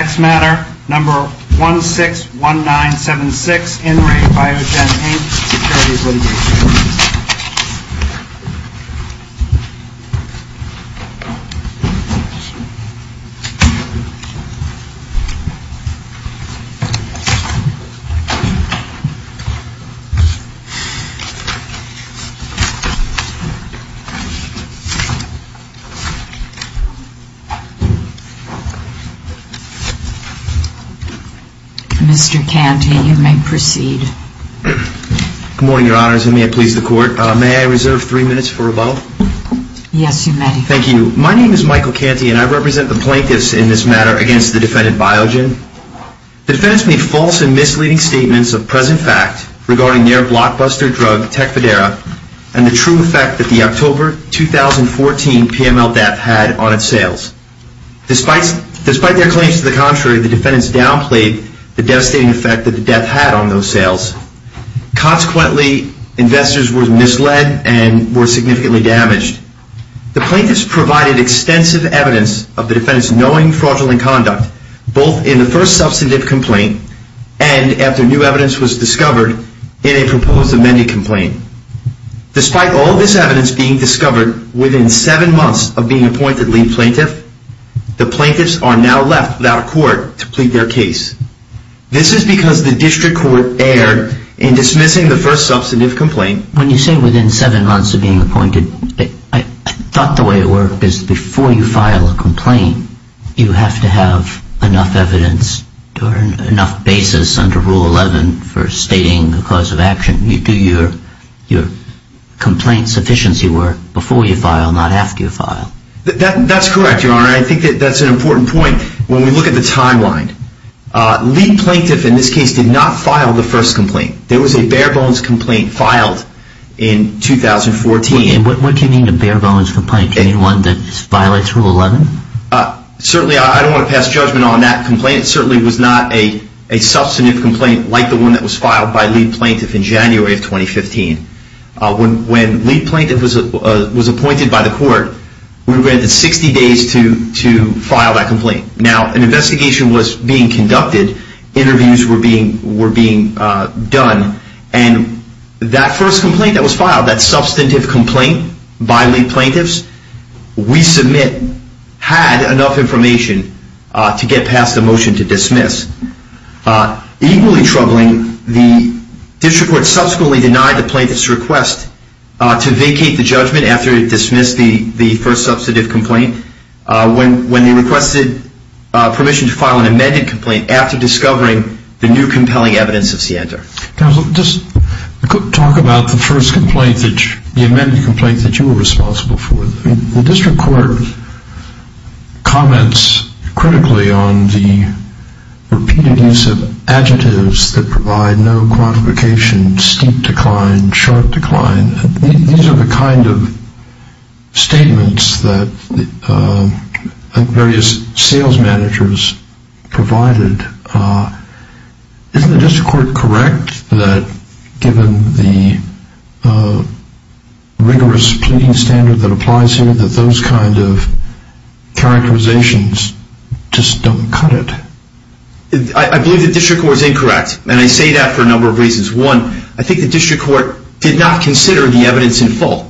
Next matter, No. 161976, In Re. Biogen Inc. Sec. Litig. Mr. Canty, you may proceed. Good morning, Your Honors, and may it please the Court. May I reserve three minutes for rebuttal? Yes, you may. Thank you. My name is Michael Canty, and I represent the Plaintiffs in this matter against the defendant Biogen. The defendant made false and misleading statements of present fact regarding their blockbuster drug, Tecfidera, and the true effect that the October 2014 PML theft had on its sales. Despite their claims to the contrary, the defendants downplayed the devastating effect that the theft had on those sales. Consequently, investors were misled and were significantly damaged. The plaintiffs provided extensive evidence of the defendants knowing fraudulent conduct, both in the first substantive complaint and, after new evidence was discovered, in a proposed amended complaint. Despite all of this evidence being discovered within seven months of being appointed, I thought the way it worked is before you file a complaint you have to have enough evidence or enough basis under Rule 11 for stating the cause of action. You do your complaint sufficiency work before you file, not after you file. That's correct, Your Honor. I think that's an important point when we look at the timeline. Lee Plaintiff, in this case, did not file the first complaint. There was a bare-bones complaint filed in 2014. What do you mean a bare-bones complaint? Do you mean one that violates Rule 11? Certainly I don't want to pass judgment on that complaint. It certainly was not a substantive complaint like the one that was filed by Lee Plaintiff in January of 2015. When Lee Plaintiff was appointed by the court, we were granted 60 days to file that complaint. Now, an investigation was being conducted, interviews were being done, and that first complaint that was filed, that substantive complaint by Lee Plaintiff, we submit had enough information to get past the motion to dismiss. Equally troubling, the district court subsequently denied the Plaintiff's request to vacate the judgment after it dismissed the first substantive complaint when they requested permission to file an amended complaint after discovering the new compelling evidence of SIENTA. Counsel, just talk about the first complaint, the amended complaint that you were responsible for. The district court comments critically on the repeated use of adjectives that provide no quantification, steep decline, sharp decline. These are the kind of statements that various sales managers provided. Isn't the district court correct that given the rigorous pleading standard that applies here, that those kind of characterizations just don't cut it? I believe the district court is incorrect, and I say that for a number of reasons. One, I think the district court did not consider the evidence in full.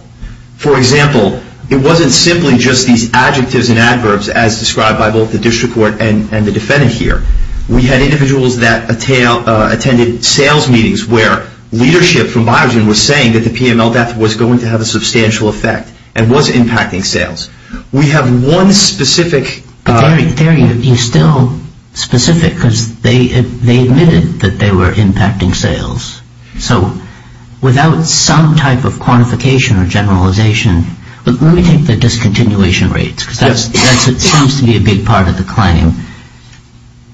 For example, it wasn't simply just these adjectives and adverbs as described by both the district court and the defendant here. We had individuals that attended sales meetings where leadership from Biogen was saying that the PML death was going to have a substantial effect and was impacting sales. We have one specific... But there you're still specific because they admitted that they were impacting sales. So without some type of quantification or generalization, let me take the discontinuation rates because that seems to be a big part of the claim.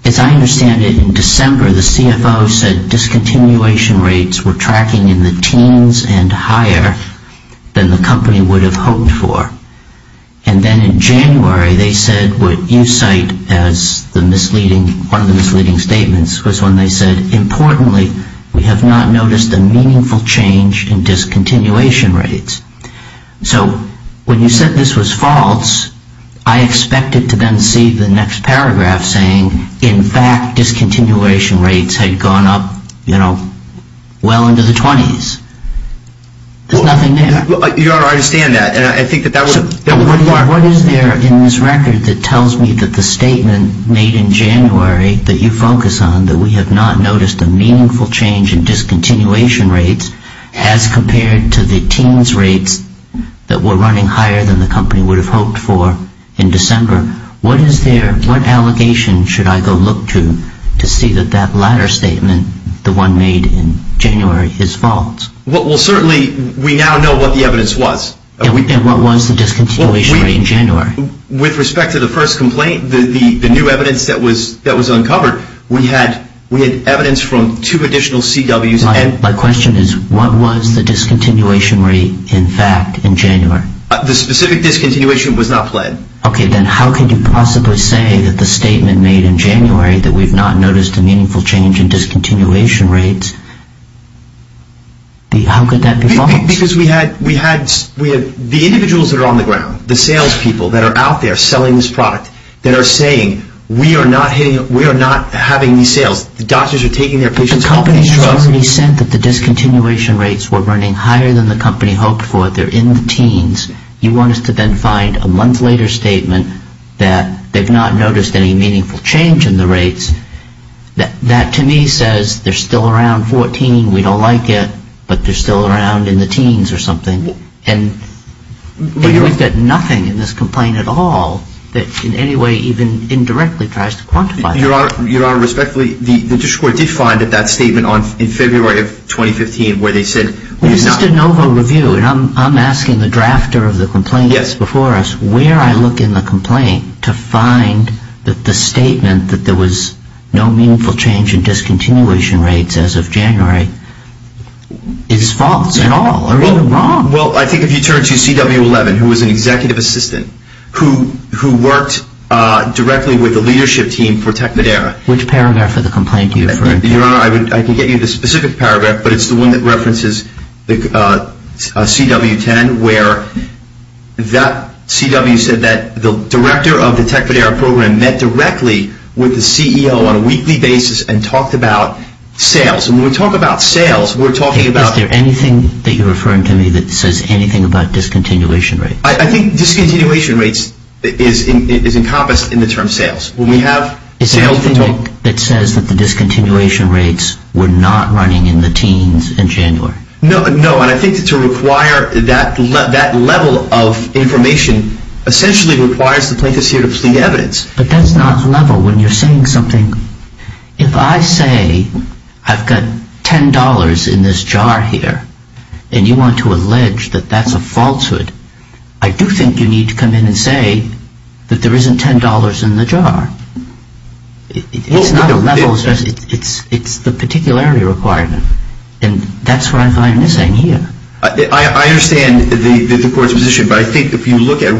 As I understand it, in December the CFO said discontinuation rates were tracking in the teens and higher than the company would have hoped for. And then in January they said what you cite as one of the misleading statements was when they said, importantly, we have not noticed a meaningful change in discontinuation rates. So when you said this was false, I expected to then see the next paragraph saying, in fact, discontinuation rates had gone up, you know, well into the 20s. There's nothing there. You don't understand that. And I think that that was... What is there in this record that tells me that the statement made in January that you focus on, that we have not noticed a meaningful change in discontinuation rates as compared to the teens rates that were running higher than the company would have hoped for in December, what is there, what allegation should I go look to to see that that latter statement, the one made in January, is false? Well, certainly we now know what the evidence was. And what was the discontinuation rate in January? With respect to the first complaint, the new evidence that was uncovered, we had evidence from two additional CWs and... My question is, what was the discontinuation rate, in fact, in January? The specific discontinuation was not planned. Okay, then how could you possibly say that the statement made in January that we've not noticed a meaningful change in discontinuation rates, how could that be false? Because we had, we had, we had, the individuals that are on the ground, the salespeople that are out there selling this product, that are saying, we are not hitting, we are not having these sales. The doctors are taking their patients off these trucks. But the company has already said that the discontinuation rates were running higher than the company hoped for. They're in the teens. You want us to then find a month later statement that they've not noticed any meaningful change in the rates, that to me says they're still around 14, we don't like it, but they're still around in the teens or something. And we've got nothing in this complaint at all that in any way even indirectly tries to quantify that. Your Honor, respectfully, the district court did find that statement in February of 2015 where they said... This is de novo review, and I'm asking the drafter of the complaint that's before us where I look in the complaint to find that the statement that there was no meaningful change in discontinuation rates as of January is false at all, or even wrong. Well, I think if you turn to CW11, who was an executive assistant, who, who worked directly with the leadership team for Tecmadera... Which paragraph of the complaint do you refer to? Your Honor, I can get you the specific paragraph, but it's the one that references CW10 where that CW said that the director of the Tecmadera program met directly with the CEO on a weekly basis and talked about sales, and when we talk about sales, we're talking about... Is there anything that you're referring to me that says anything about discontinuation rates? I think discontinuation rates is encompassed in the term sales. When we have sales... Is there anything that says that the discontinuation rates were not running in the teens in January? No, no, and I think to require that level of information essentially requires the plaintiffs here to plead evidence. But that's not level when you're saying something. If I say I've got $10 in this jar here, and you want to allege that that's a falsehood, I do think you need to come in and say that there isn't $10 in the jar. It's not a level, it's the particularity requirement, and that's where I find this saying here. I understand the court's position, but I think if you look at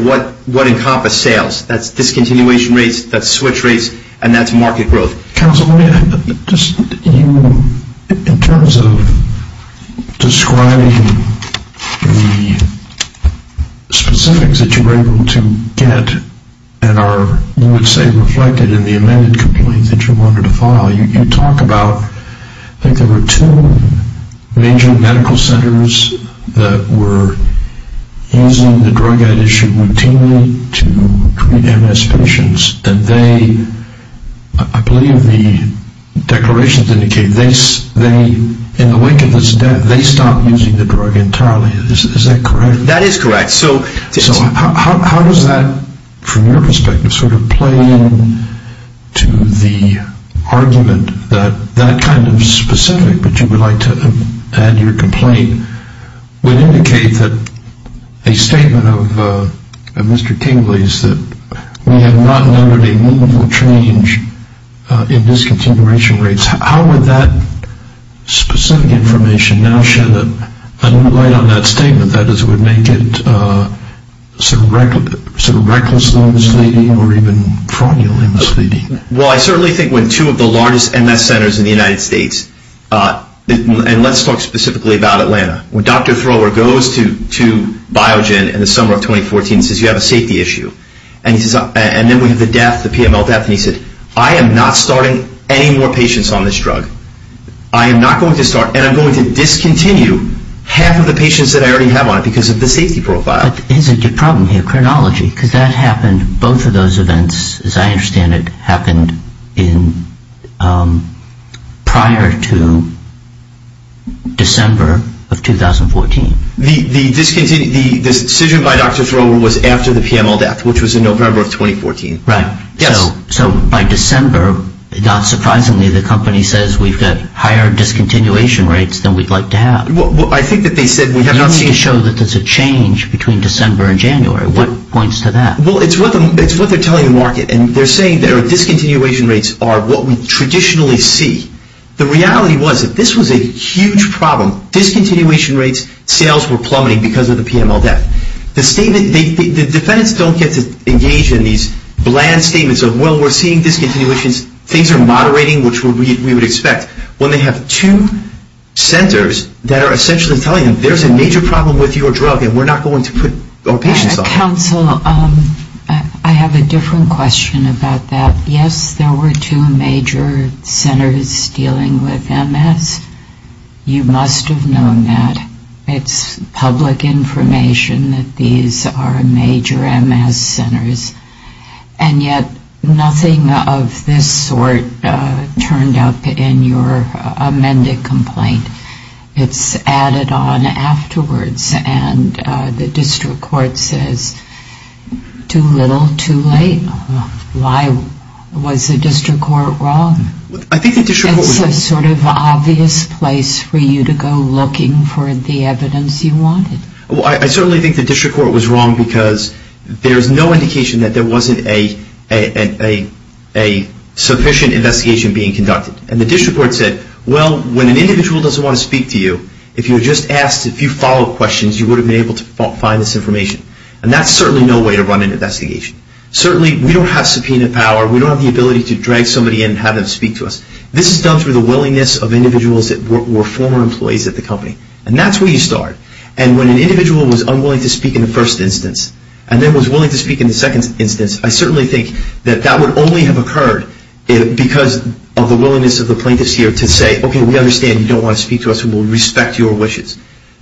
what encompassed sales, that's discontinuation rates, that's switch rates, and that's market growth. Counsel, in terms of describing the specifics that you were able to get and are, you would say, reflected in the amended complaint that you wanted to file, you talk about, I think there were two major medical centers that were using the drug ad issue routinely to treat MS patients, and they, I believe the declarations indicate, they, in the wake of this death, they stopped using the drug entirely. Is that correct? That is correct. So how does that, from your perspective, sort of play into the argument that that kind of specific that you would like to add to your complaint would indicate that a statement of Mr. Kingley's, that we have not noted a meaningful change in discontinuation rates. How would that specific information now shed a new light on that statement, that is, would make it sort of recklessly misleading or even fraudulently misleading? Well, I certainly think when two of the largest MS centers in the United States, and let's talk specifically about Atlanta, when Dr. Thrower goes to Biogen in the summer of 2014 and says, you have a safety issue, and then we have the death, the PML death, and he said, I am not starting any more patients on this drug. I am not going to start, and I'm going to discontinue half of the patients that I already have on it because of the safety profile. But isn't the problem here chronology? Because that happened, both of those events, as I understand it, happened in prior to December of 2014. The decision by Dr. Thrower was after the PML death, which was in November of 2014. Right. Yes. So by December, not surprisingly, the company says we've got higher discontinuation rates than we'd like to have. Well, I think that they said, we have not seen... You need to show that there's a change between December and January. What points to that? Well, it's what they're telling the market, and they're saying their discontinuation rates are what we traditionally see. The reality was that this was a huge problem. Discontinuation rates, sales were plummeting because of the PML death. The statement, the defendants don't get to engage in these bland statements of, well, we're seeing discontinuations, things are moderating, which we would expect, when they have two centers that are essentially telling them, there's a major problem with your drug and we're not going to put our patients off. Counsel, I have a different question about that. Yes, there were two major centers dealing with MS. You must have known that. It's public information that these are major MS centers, and yet nothing of this sort turned up in your amended complaint. It's added on afterwards, and the district court says, too little, too late. Why was the district court wrong? I think the district court was... It's a sort of obvious place for you to go looking for the evidence you wanted. I certainly think the district court was wrong because there's no indication that there wasn't a sufficient investigation being conducted. The district court said, well, when an individual doesn't want to speak to you, if you had just asked a few follow-up questions, you would have been able to find this information. That's certainly no way to run an investigation. Certainly we don't have subpoena power. We don't have the ability to drag somebody in and have them speak to us. This is done through the willingness of individuals that were former employees at the company. That's where you start. When an individual was unwilling to speak in the first instance, and then was willing to speak in the second instance, I certainly think that that would only have occurred because of the willingness of the plaintiffs here to say, okay, we understand you don't want to speak to us. We will respect your wishes.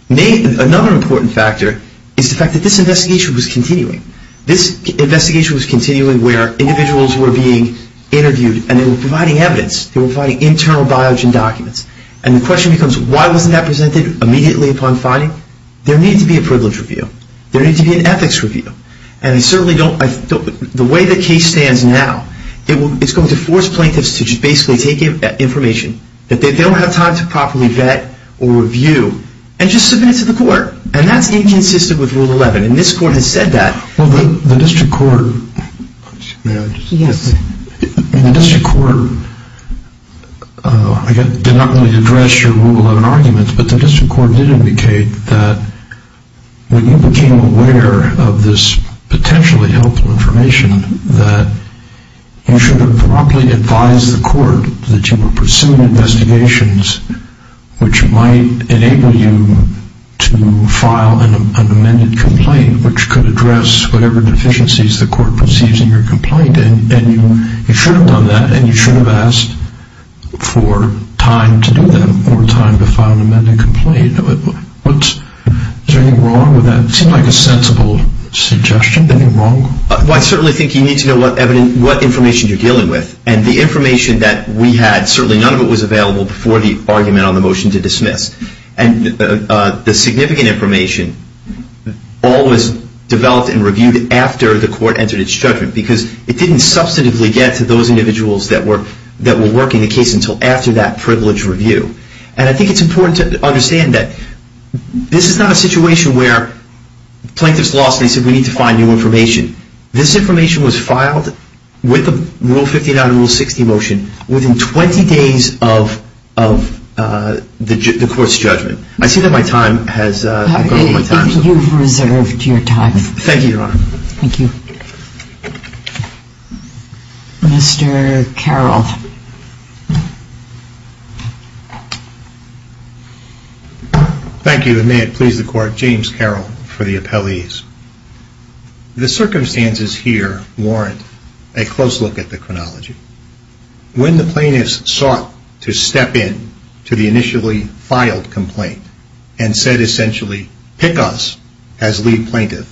Another important factor is the fact that this investigation was continuing. This investigation was continuing where individuals were being interviewed, and they were providing evidence. They were providing internal biogen documents, and the question becomes, why wasn't that presented immediately upon finding? There needed to be a privilege review. There needed to be an ethics review, and I certainly don't... The way the case stands now, it's going to force plaintiffs to just basically take information that they don't have time to properly vet or review, and just submit it to the court, and that's inconsistent with Rule 11, and this court has said that. The district court did not really address your Rule 11 arguments, but the district court did indicate that when you became aware of this potentially helpful information, that you should have properly advised the court that you were pursuing investigations which might enable you to file an amended complaint, which could address whatever deficiencies the court perceives in your complaint, and you should have done that, and you should have asked for time to do that, or time to file an amended complaint. What's... Is there anything wrong with that? It seemed like a sensible suggestion. Anything wrong? Well, I certainly think you need to know what information you're dealing with, and the information that we had, certainly none of it was available before the argument on the motion to dismiss, and the significant information all was developed and reviewed after the court entered its judgment, because it didn't substantively get to those individuals that were working the case until after that privileged review, and I think it's important to understand that this is not a situation where plaintiffs lost, and they said we need to find new information. This information was filed with the Rule 59 and Rule 60 motion within 20 days of the court's judgment. I see that my time has... You've reserved your time. Thank you, Your Honor. Thank you. Mr. Carroll. Thank you, and may it please the Court, James Carroll for the appellees. The circumstances here warrant a close look at the chronology. When the plaintiffs sought to step in to the initially filed complaint, and said essentially pick us as lead plaintiff,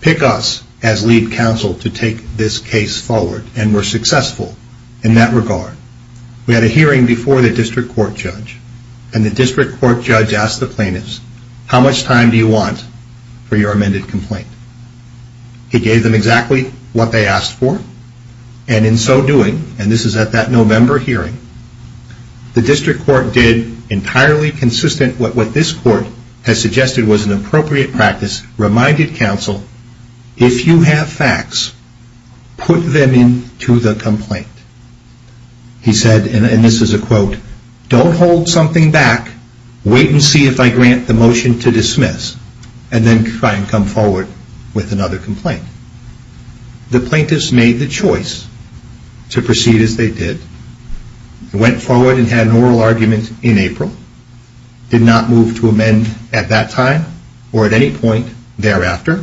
pick us as lead counsel to take this case forward, and were successful in that regard, we had a hearing before the district court judge, and the district court judge asked the plaintiffs, how much time do you want for your amended complaint? He gave them exactly what they asked for, and in so doing, and this is at that November hearing, the district court did entirely consistent with what this court has suggested was an appropriate practice, reminded counsel, if you have facts, put them into the complaint. He said, and this is a quote, don't hold something back, wait and see if I grant the motion to dismiss, and then try and come forward with another complaint. The plaintiffs made the choice to proceed as they did, went forward and had an oral argument in April, did not move to amend at that time, or at any point thereafter,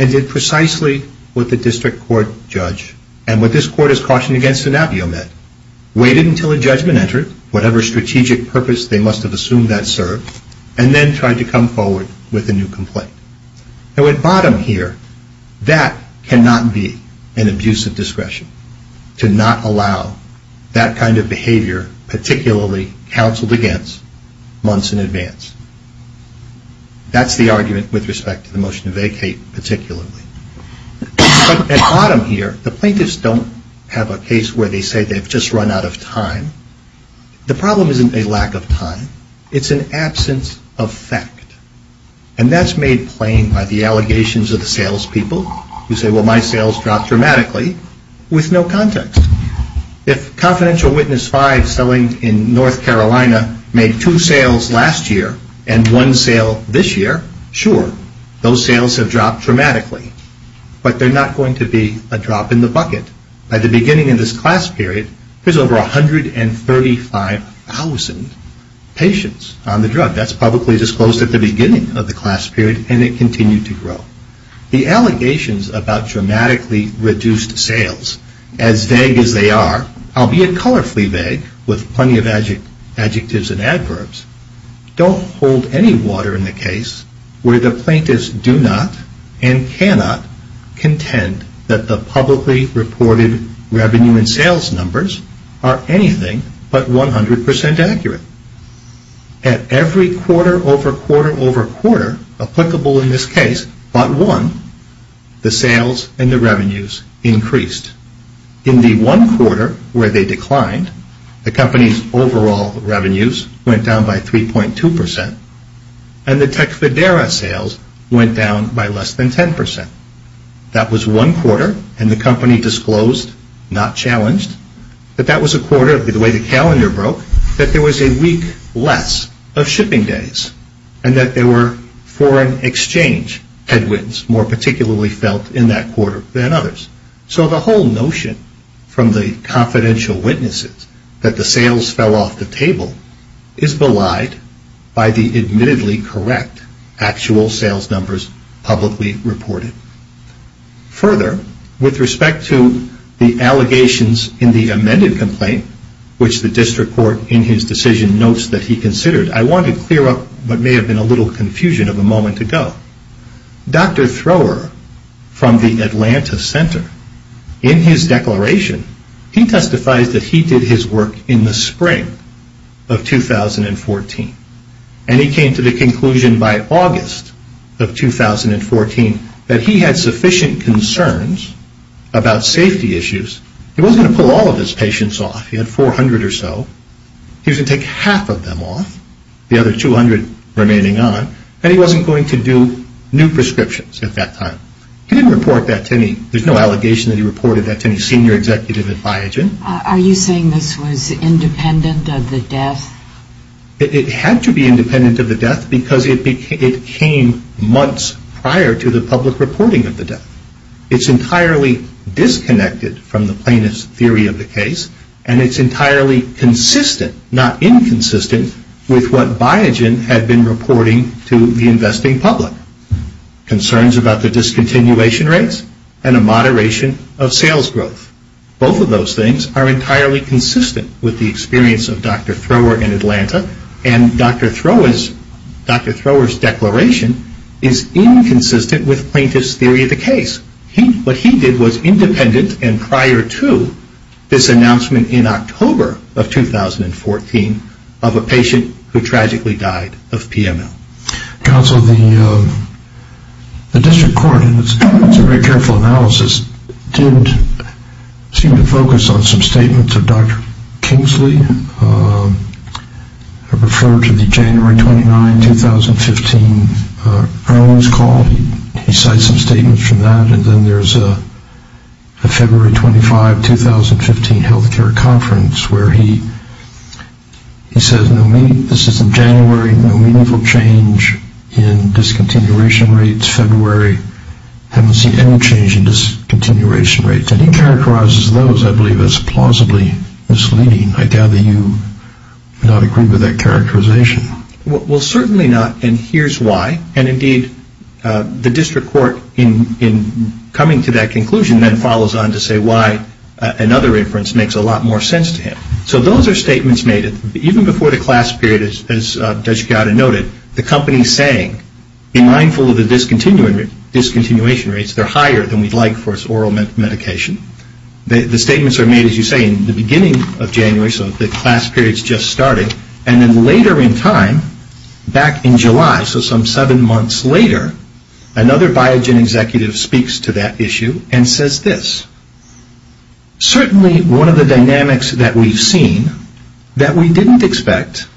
and did precisely what the district court judge, and what this court has cautioned against in AVIO met, waited until a judgment entered, whatever strategic purpose they must have assumed that served, and then tried to come forward with a new complaint. At bottom here, that cannot be an abuse of discretion, to not allow that kind of behavior, particularly counseled against, months in advance. That's the argument with respect to the motion to vacate, particularly, but at bottom here, the plaintiffs don't have a case where they say they've just run out of time. The problem isn't a lack of time, it's an absence of fact, and that's made plain by the allegations of the sales people, who say, well, my sales dropped dramatically, with no context. If Confidential Witness 5 selling in North Carolina made two sales last year, and one sale this year, sure, those sales have dropped dramatically, but they're not going to be a drop in the bucket. At the beginning of this class period, there's over 135,000 patients on the drug. That's publicly disclosed at the beginning of the class period, and it continued to grow. The allegations about dramatically reduced sales, as vague as they are, albeit colorfully vague, with plenty of adjectives and adverbs, don't hold any water in the case where the reported revenue and sales numbers are anything but 100% accurate. At every quarter, over quarter, over quarter, applicable in this case, but one, the sales and the revenues increased. In the one quarter, where they declined, the company's overall revenues went down by 3.2%, and the Tecfidera sales went down by less than 10%. That was one quarter, and the company disclosed, not challenged, that that was a quarter, the way the calendar broke, that there was a week less of shipping days, and that there were foreign exchange headwinds, more particularly felt in that quarter than others. The whole notion from the confidential witnesses that the sales fell off the table is belied by the admittedly correct actual sales numbers publicly reported. Further, with respect to the allegations in the amended complaint, which the district court in his decision notes that he considered, I want to clear up what may have been a little confusion of a moment ago. Dr. Thrower, from the Atlanta Center, in his declaration, he testifies that he did his work in the spring of 2014, and he came to the conclusion by August of 2014 that he had sufficient concerns about safety issues. He wasn't going to pull all of his patients off. He had 400 or so. He was going to take half of them off, the other 200 remaining on, and he wasn't going to do new prescriptions at that time. He didn't report that to any, there's no allegation that he reported that to any senior executive advisor. Are you saying this was independent of the death? It had to be independent of the death because it came months prior to the public reporting of the death. It's entirely disconnected from the plaintiff's theory of the case, and it's entirely consistent, not inconsistent, with what Biogen had been reporting to the investing public. Concerns about the discontinuation rates and a moderation of sales growth. Both of those things are entirely consistent with the experience of Dr. Thrower in Atlanta, and Dr. Thrower's declaration is inconsistent with the plaintiff's theory of the case. What he did was independent and prior to this announcement in October of 2014 of a patient who tragically died of PML. Counsel, the district court, and it's a very careful analysis, did seem to focus on some statements of Dr. Kingsley. I refer to the January 29, 2015 earliness call. He cites some statements from that, and then there's a February 25, 2015 healthcare conference where he says, this is in January, no meaningful change in discontinuation rates. February, haven't seen any change in discontinuation rates. And he characterizes those, I believe, as plausibly misleading. I doubt that you would not agree with that characterization. Well, certainly not, and here's why. And indeed, the district court, in coming to that conclusion, then follows on to say why another inference makes a lot more sense to him. So those are statements made, even before the class period, as Judge Gatta noted, the company's saying, be mindful of the discontinuation rates. They're higher than we'd like for oral medication. The statements are made, as you say, in the beginning of January, so the class period's just starting. And then later in time, back in July, so some seven months later, another Biogen executive speaks to that issue and says this. Certainly, one of the dynamics that we've seen, that we didn't expect,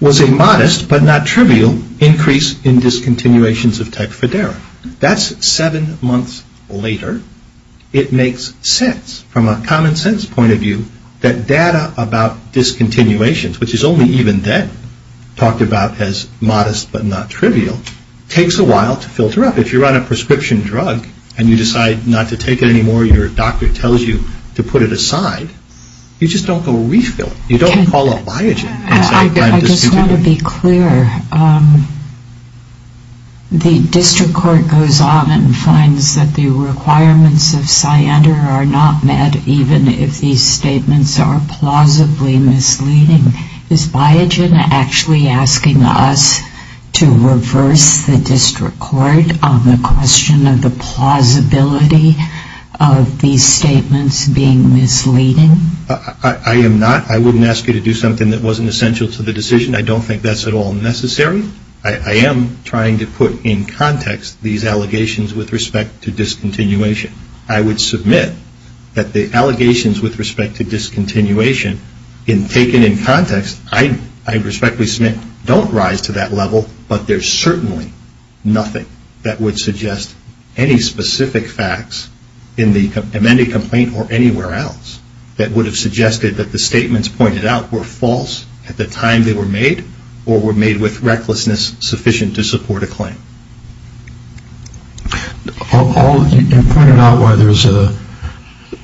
was a modest, but not trivial, increase in discontinuations of Tecfidera. That's seven months later. It makes sense, from a common sense point of view, that data about discontinuations, which is only even then talked about as modest, but not trivial, takes a while to filter up. If you're on a prescription drug, and you decide not to take it anymore, your doctor tells you to put it aside, you just don't go refill it. You don't call up Biogen. I just want to be clear. The district court goes on and finds that the requirements of CYANDER are not met, even if these statements are plausibly misleading. Is Biogen actually asking us to reverse the district court on the question of the plausibility of these statements being misleading? I am not. I wouldn't ask you to do something that wasn't essential to the decision. I don't think that's at all necessary. I am trying to put in context these allegations with respect to discontinuation. I would submit that the allegations with respect to discontinuation, taken in context, I respectfully submit don't rise to that level, but there's certainly nothing that would suggest any specific facts in the amended complaint or anywhere else that would have suggested that the statements pointed out were false at the time they were made, or were made with recklessness sufficient to support a claim. You pointed out why there's a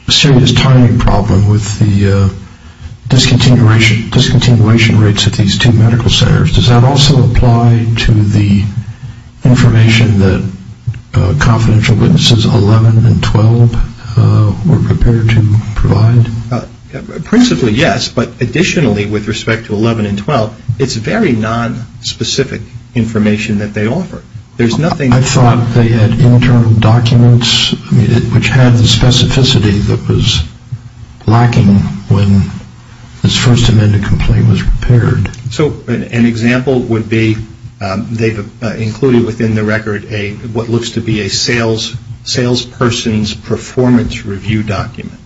serious timing problem with the discontinuation rates at these two medical centers. Does that also apply to the information that confidential witnesses 11 and 12 were prepared to provide? Principally, yes, but additionally, with respect to 11 and 12, it's very nonspecific information that they offer. I thought they had internal documents which had the specificity that was lacking when this first amended complaint was prepared. So an example would be they've included within the record what looks to be a salesperson's performance review document,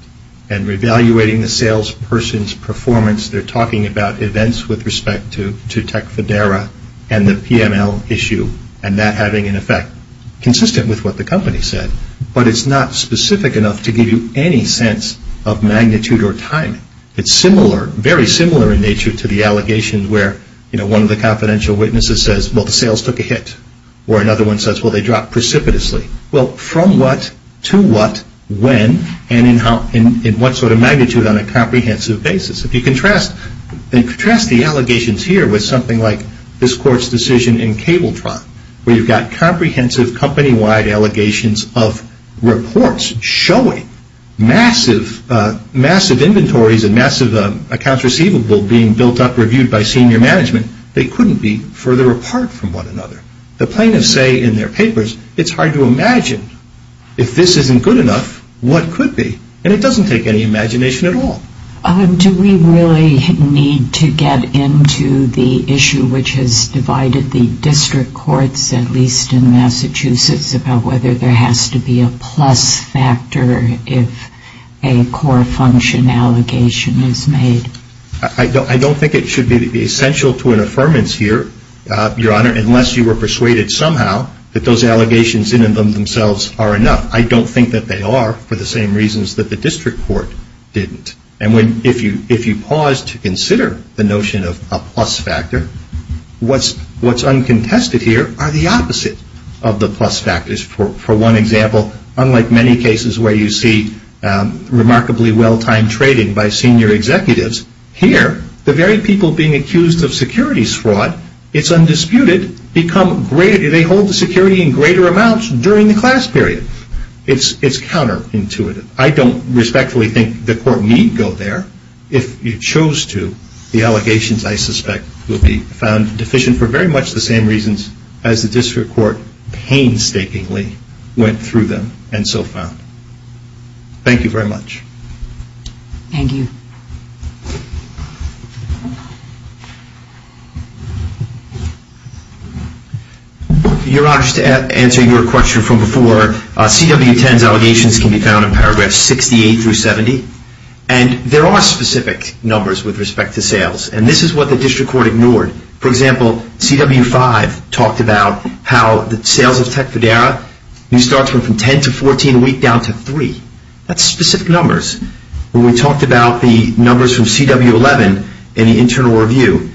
and re-evaluating the salesperson's performance, they're talking about events with respect to Tecfidera and the PML issue, and that having an effect consistent with what the company said. But it's not specific enough to give you any sense of magnitude or timing. It's similar, very similar in nature to the allegations where one of the confidential witnesses says, well, the sales took a hit, or another one says, well, they dropped precipitously. Well, from what, to what, when, and in what sort of magnitude on a comprehensive basis? If you contrast the allegations here with something like this court's decision in CableTron, where you've got comprehensive company-wide allegations of reports showing massive inventories and massive accounts receivable being built up, reviewed by senior management, they couldn't be further apart from one another. The plaintiffs say in their papers, it's hard to imagine. If this isn't good enough, what could be? And it doesn't take any imagination at all. Do we really need to get into the issue which has divided the district courts, at least in Massachusetts, about whether there has to be a plus factor if a core function allegation is made? I don't think it should be essential to an affirmance here, Your Honor, unless you were persuaded somehow that those allegations in and of themselves are enough. I don't think that they are for the same reasons that the district court didn't. And if you pause to consider the notion of a plus factor, what's uncontested here are the opposite of the plus factors. For one example, unlike many cases where you see remarkably well-timed trading by senior executives, here, the very people being accused of securities fraud, it's undisputed, become greater. They hold the security in greater amounts during the class period. It's counterintuitive. I don't respectfully think the court need go there. If you chose to, the allegations, I suspect, will be found deficient for very much the same reasons as the district court painstakingly went through them and so found. Thank you very much. Thank you. Your Honor, just to answer your question from before, CW10's allegations can be found in paragraphs 68 through 70. And there are specific numbers with respect to sales. And this is what the district court ignored. For example, CW5 talked about how the sales of Tecfidera, you start from 10 to 14 a week down to three. That's specific numbers. When we talked about the numbers from CW11 in the internal review,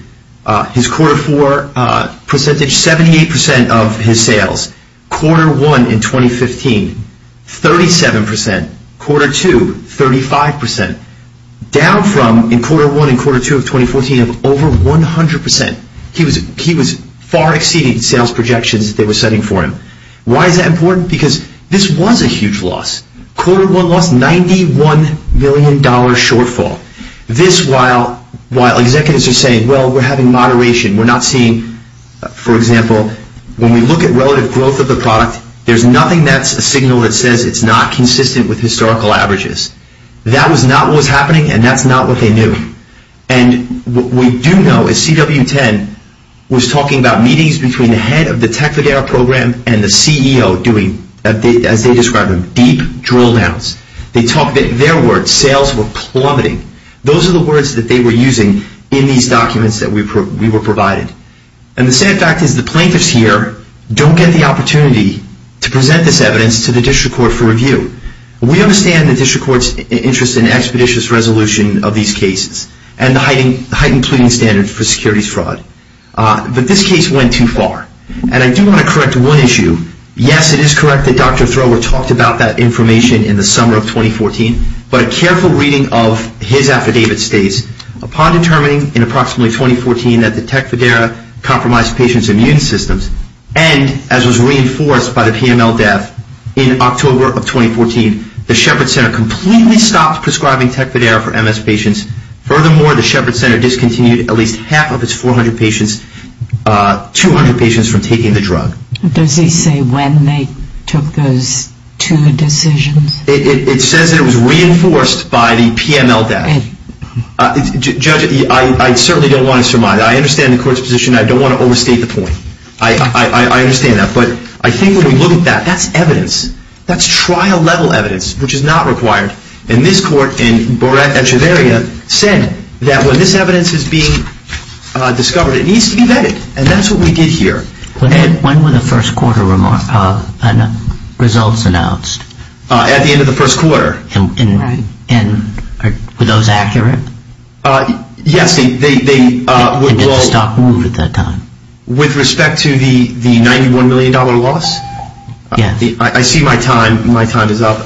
his quarter 4 percentage, 78% of his sales. Quarter 1 in 2015, 37%. Quarter 2, 35%. Down from in quarter 1 and quarter 2 of 2014 of over 100%. He was far exceeding sales projections they were setting for him. Why is that important? Because this was a huge loss. Quarter 1 lost $91 million shortfall. This while executives are saying, well, we're having moderation. We're not seeing, for example, when we look at relative growth of the product, there's nothing that's a signal that says it's not consistent with historical averages. That was not what was happening and that's not what they knew. And what we do know is CW10 was talking about meetings between the head of the Tecfidera program and the CEO doing, as they describe them, deep drill downs. Their words, sales were plummeting. Those are the words that they were using in these documents that we were provided. And the sad fact is the plaintiffs here don't get the opportunity to present this evidence to the district court for review. We understand the district court's interest in expeditious resolution of these cases and the heightened pleading standards for securities fraud. But this case went too far. And I do want to correct one issue. Yes, it is correct that Dr. Thrower talked about that information in the summer of 2014, but a careful reading of his affidavit states, upon determining in approximately 2014 that the Tecfidera compromised patients' immune systems and, as was reinforced by the PML death in October of 2014, the Shepherd Center completely stopped prescribing Tecfidera for MS patients. Furthermore, the Shepherd Center discontinued at least half of its 400 patients, 200 patients from taking the drug. Does he say when they took those two decisions? It says it was reinforced by the PML death. Judge, I certainly don't want to surmise. I understand the court's position. I don't want to overstate the point. I understand that. But I think when we look at that, that's evidence. That's trial-level evidence, which is not required. And this court, in Borat and Treveria, said that when this evidence is being discovered, it needs to be vetted. And that's what we did here. When were the first quarter results announced? At the end of the first quarter. Right. And were those accurate? Yes, they were. And did the stock move at that time? With respect to the $91 million loss? Yes. I see my time. My time is up.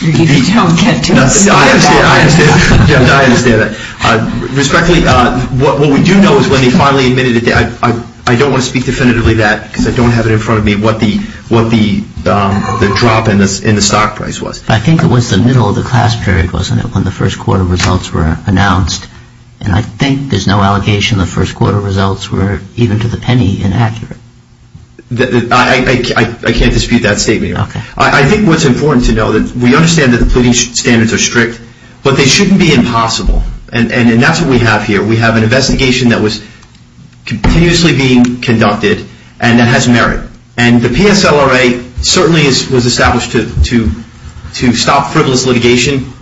You don't get to say that. I understand that. Respectfully, what we do know is when they finally admitted it, I don't want to speak definitively to that because I don't have it in front of me, what the drop in the stock price was. I think it was the middle of the class period, wasn't it, when the first quarter results were announced? And I think there's no allegation the first quarter results were, even to the penny, inaccurate. I can't dispute that statement. Okay. I think what's important to know, we understand that the pleading standards are strict, but they shouldn't be impossible. And that's what we have here. We have an investigation that was continuously being conducted and that has merit. And the PSLRA certainly was established to stop frivolous litigation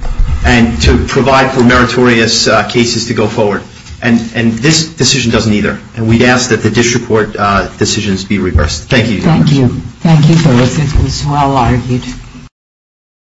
and to provide for meritorious cases to go forward. And this decision doesn't either. And we ask that the district court decisions be reversed. Thank you. Thank you. Thank you for listening. This was well argued.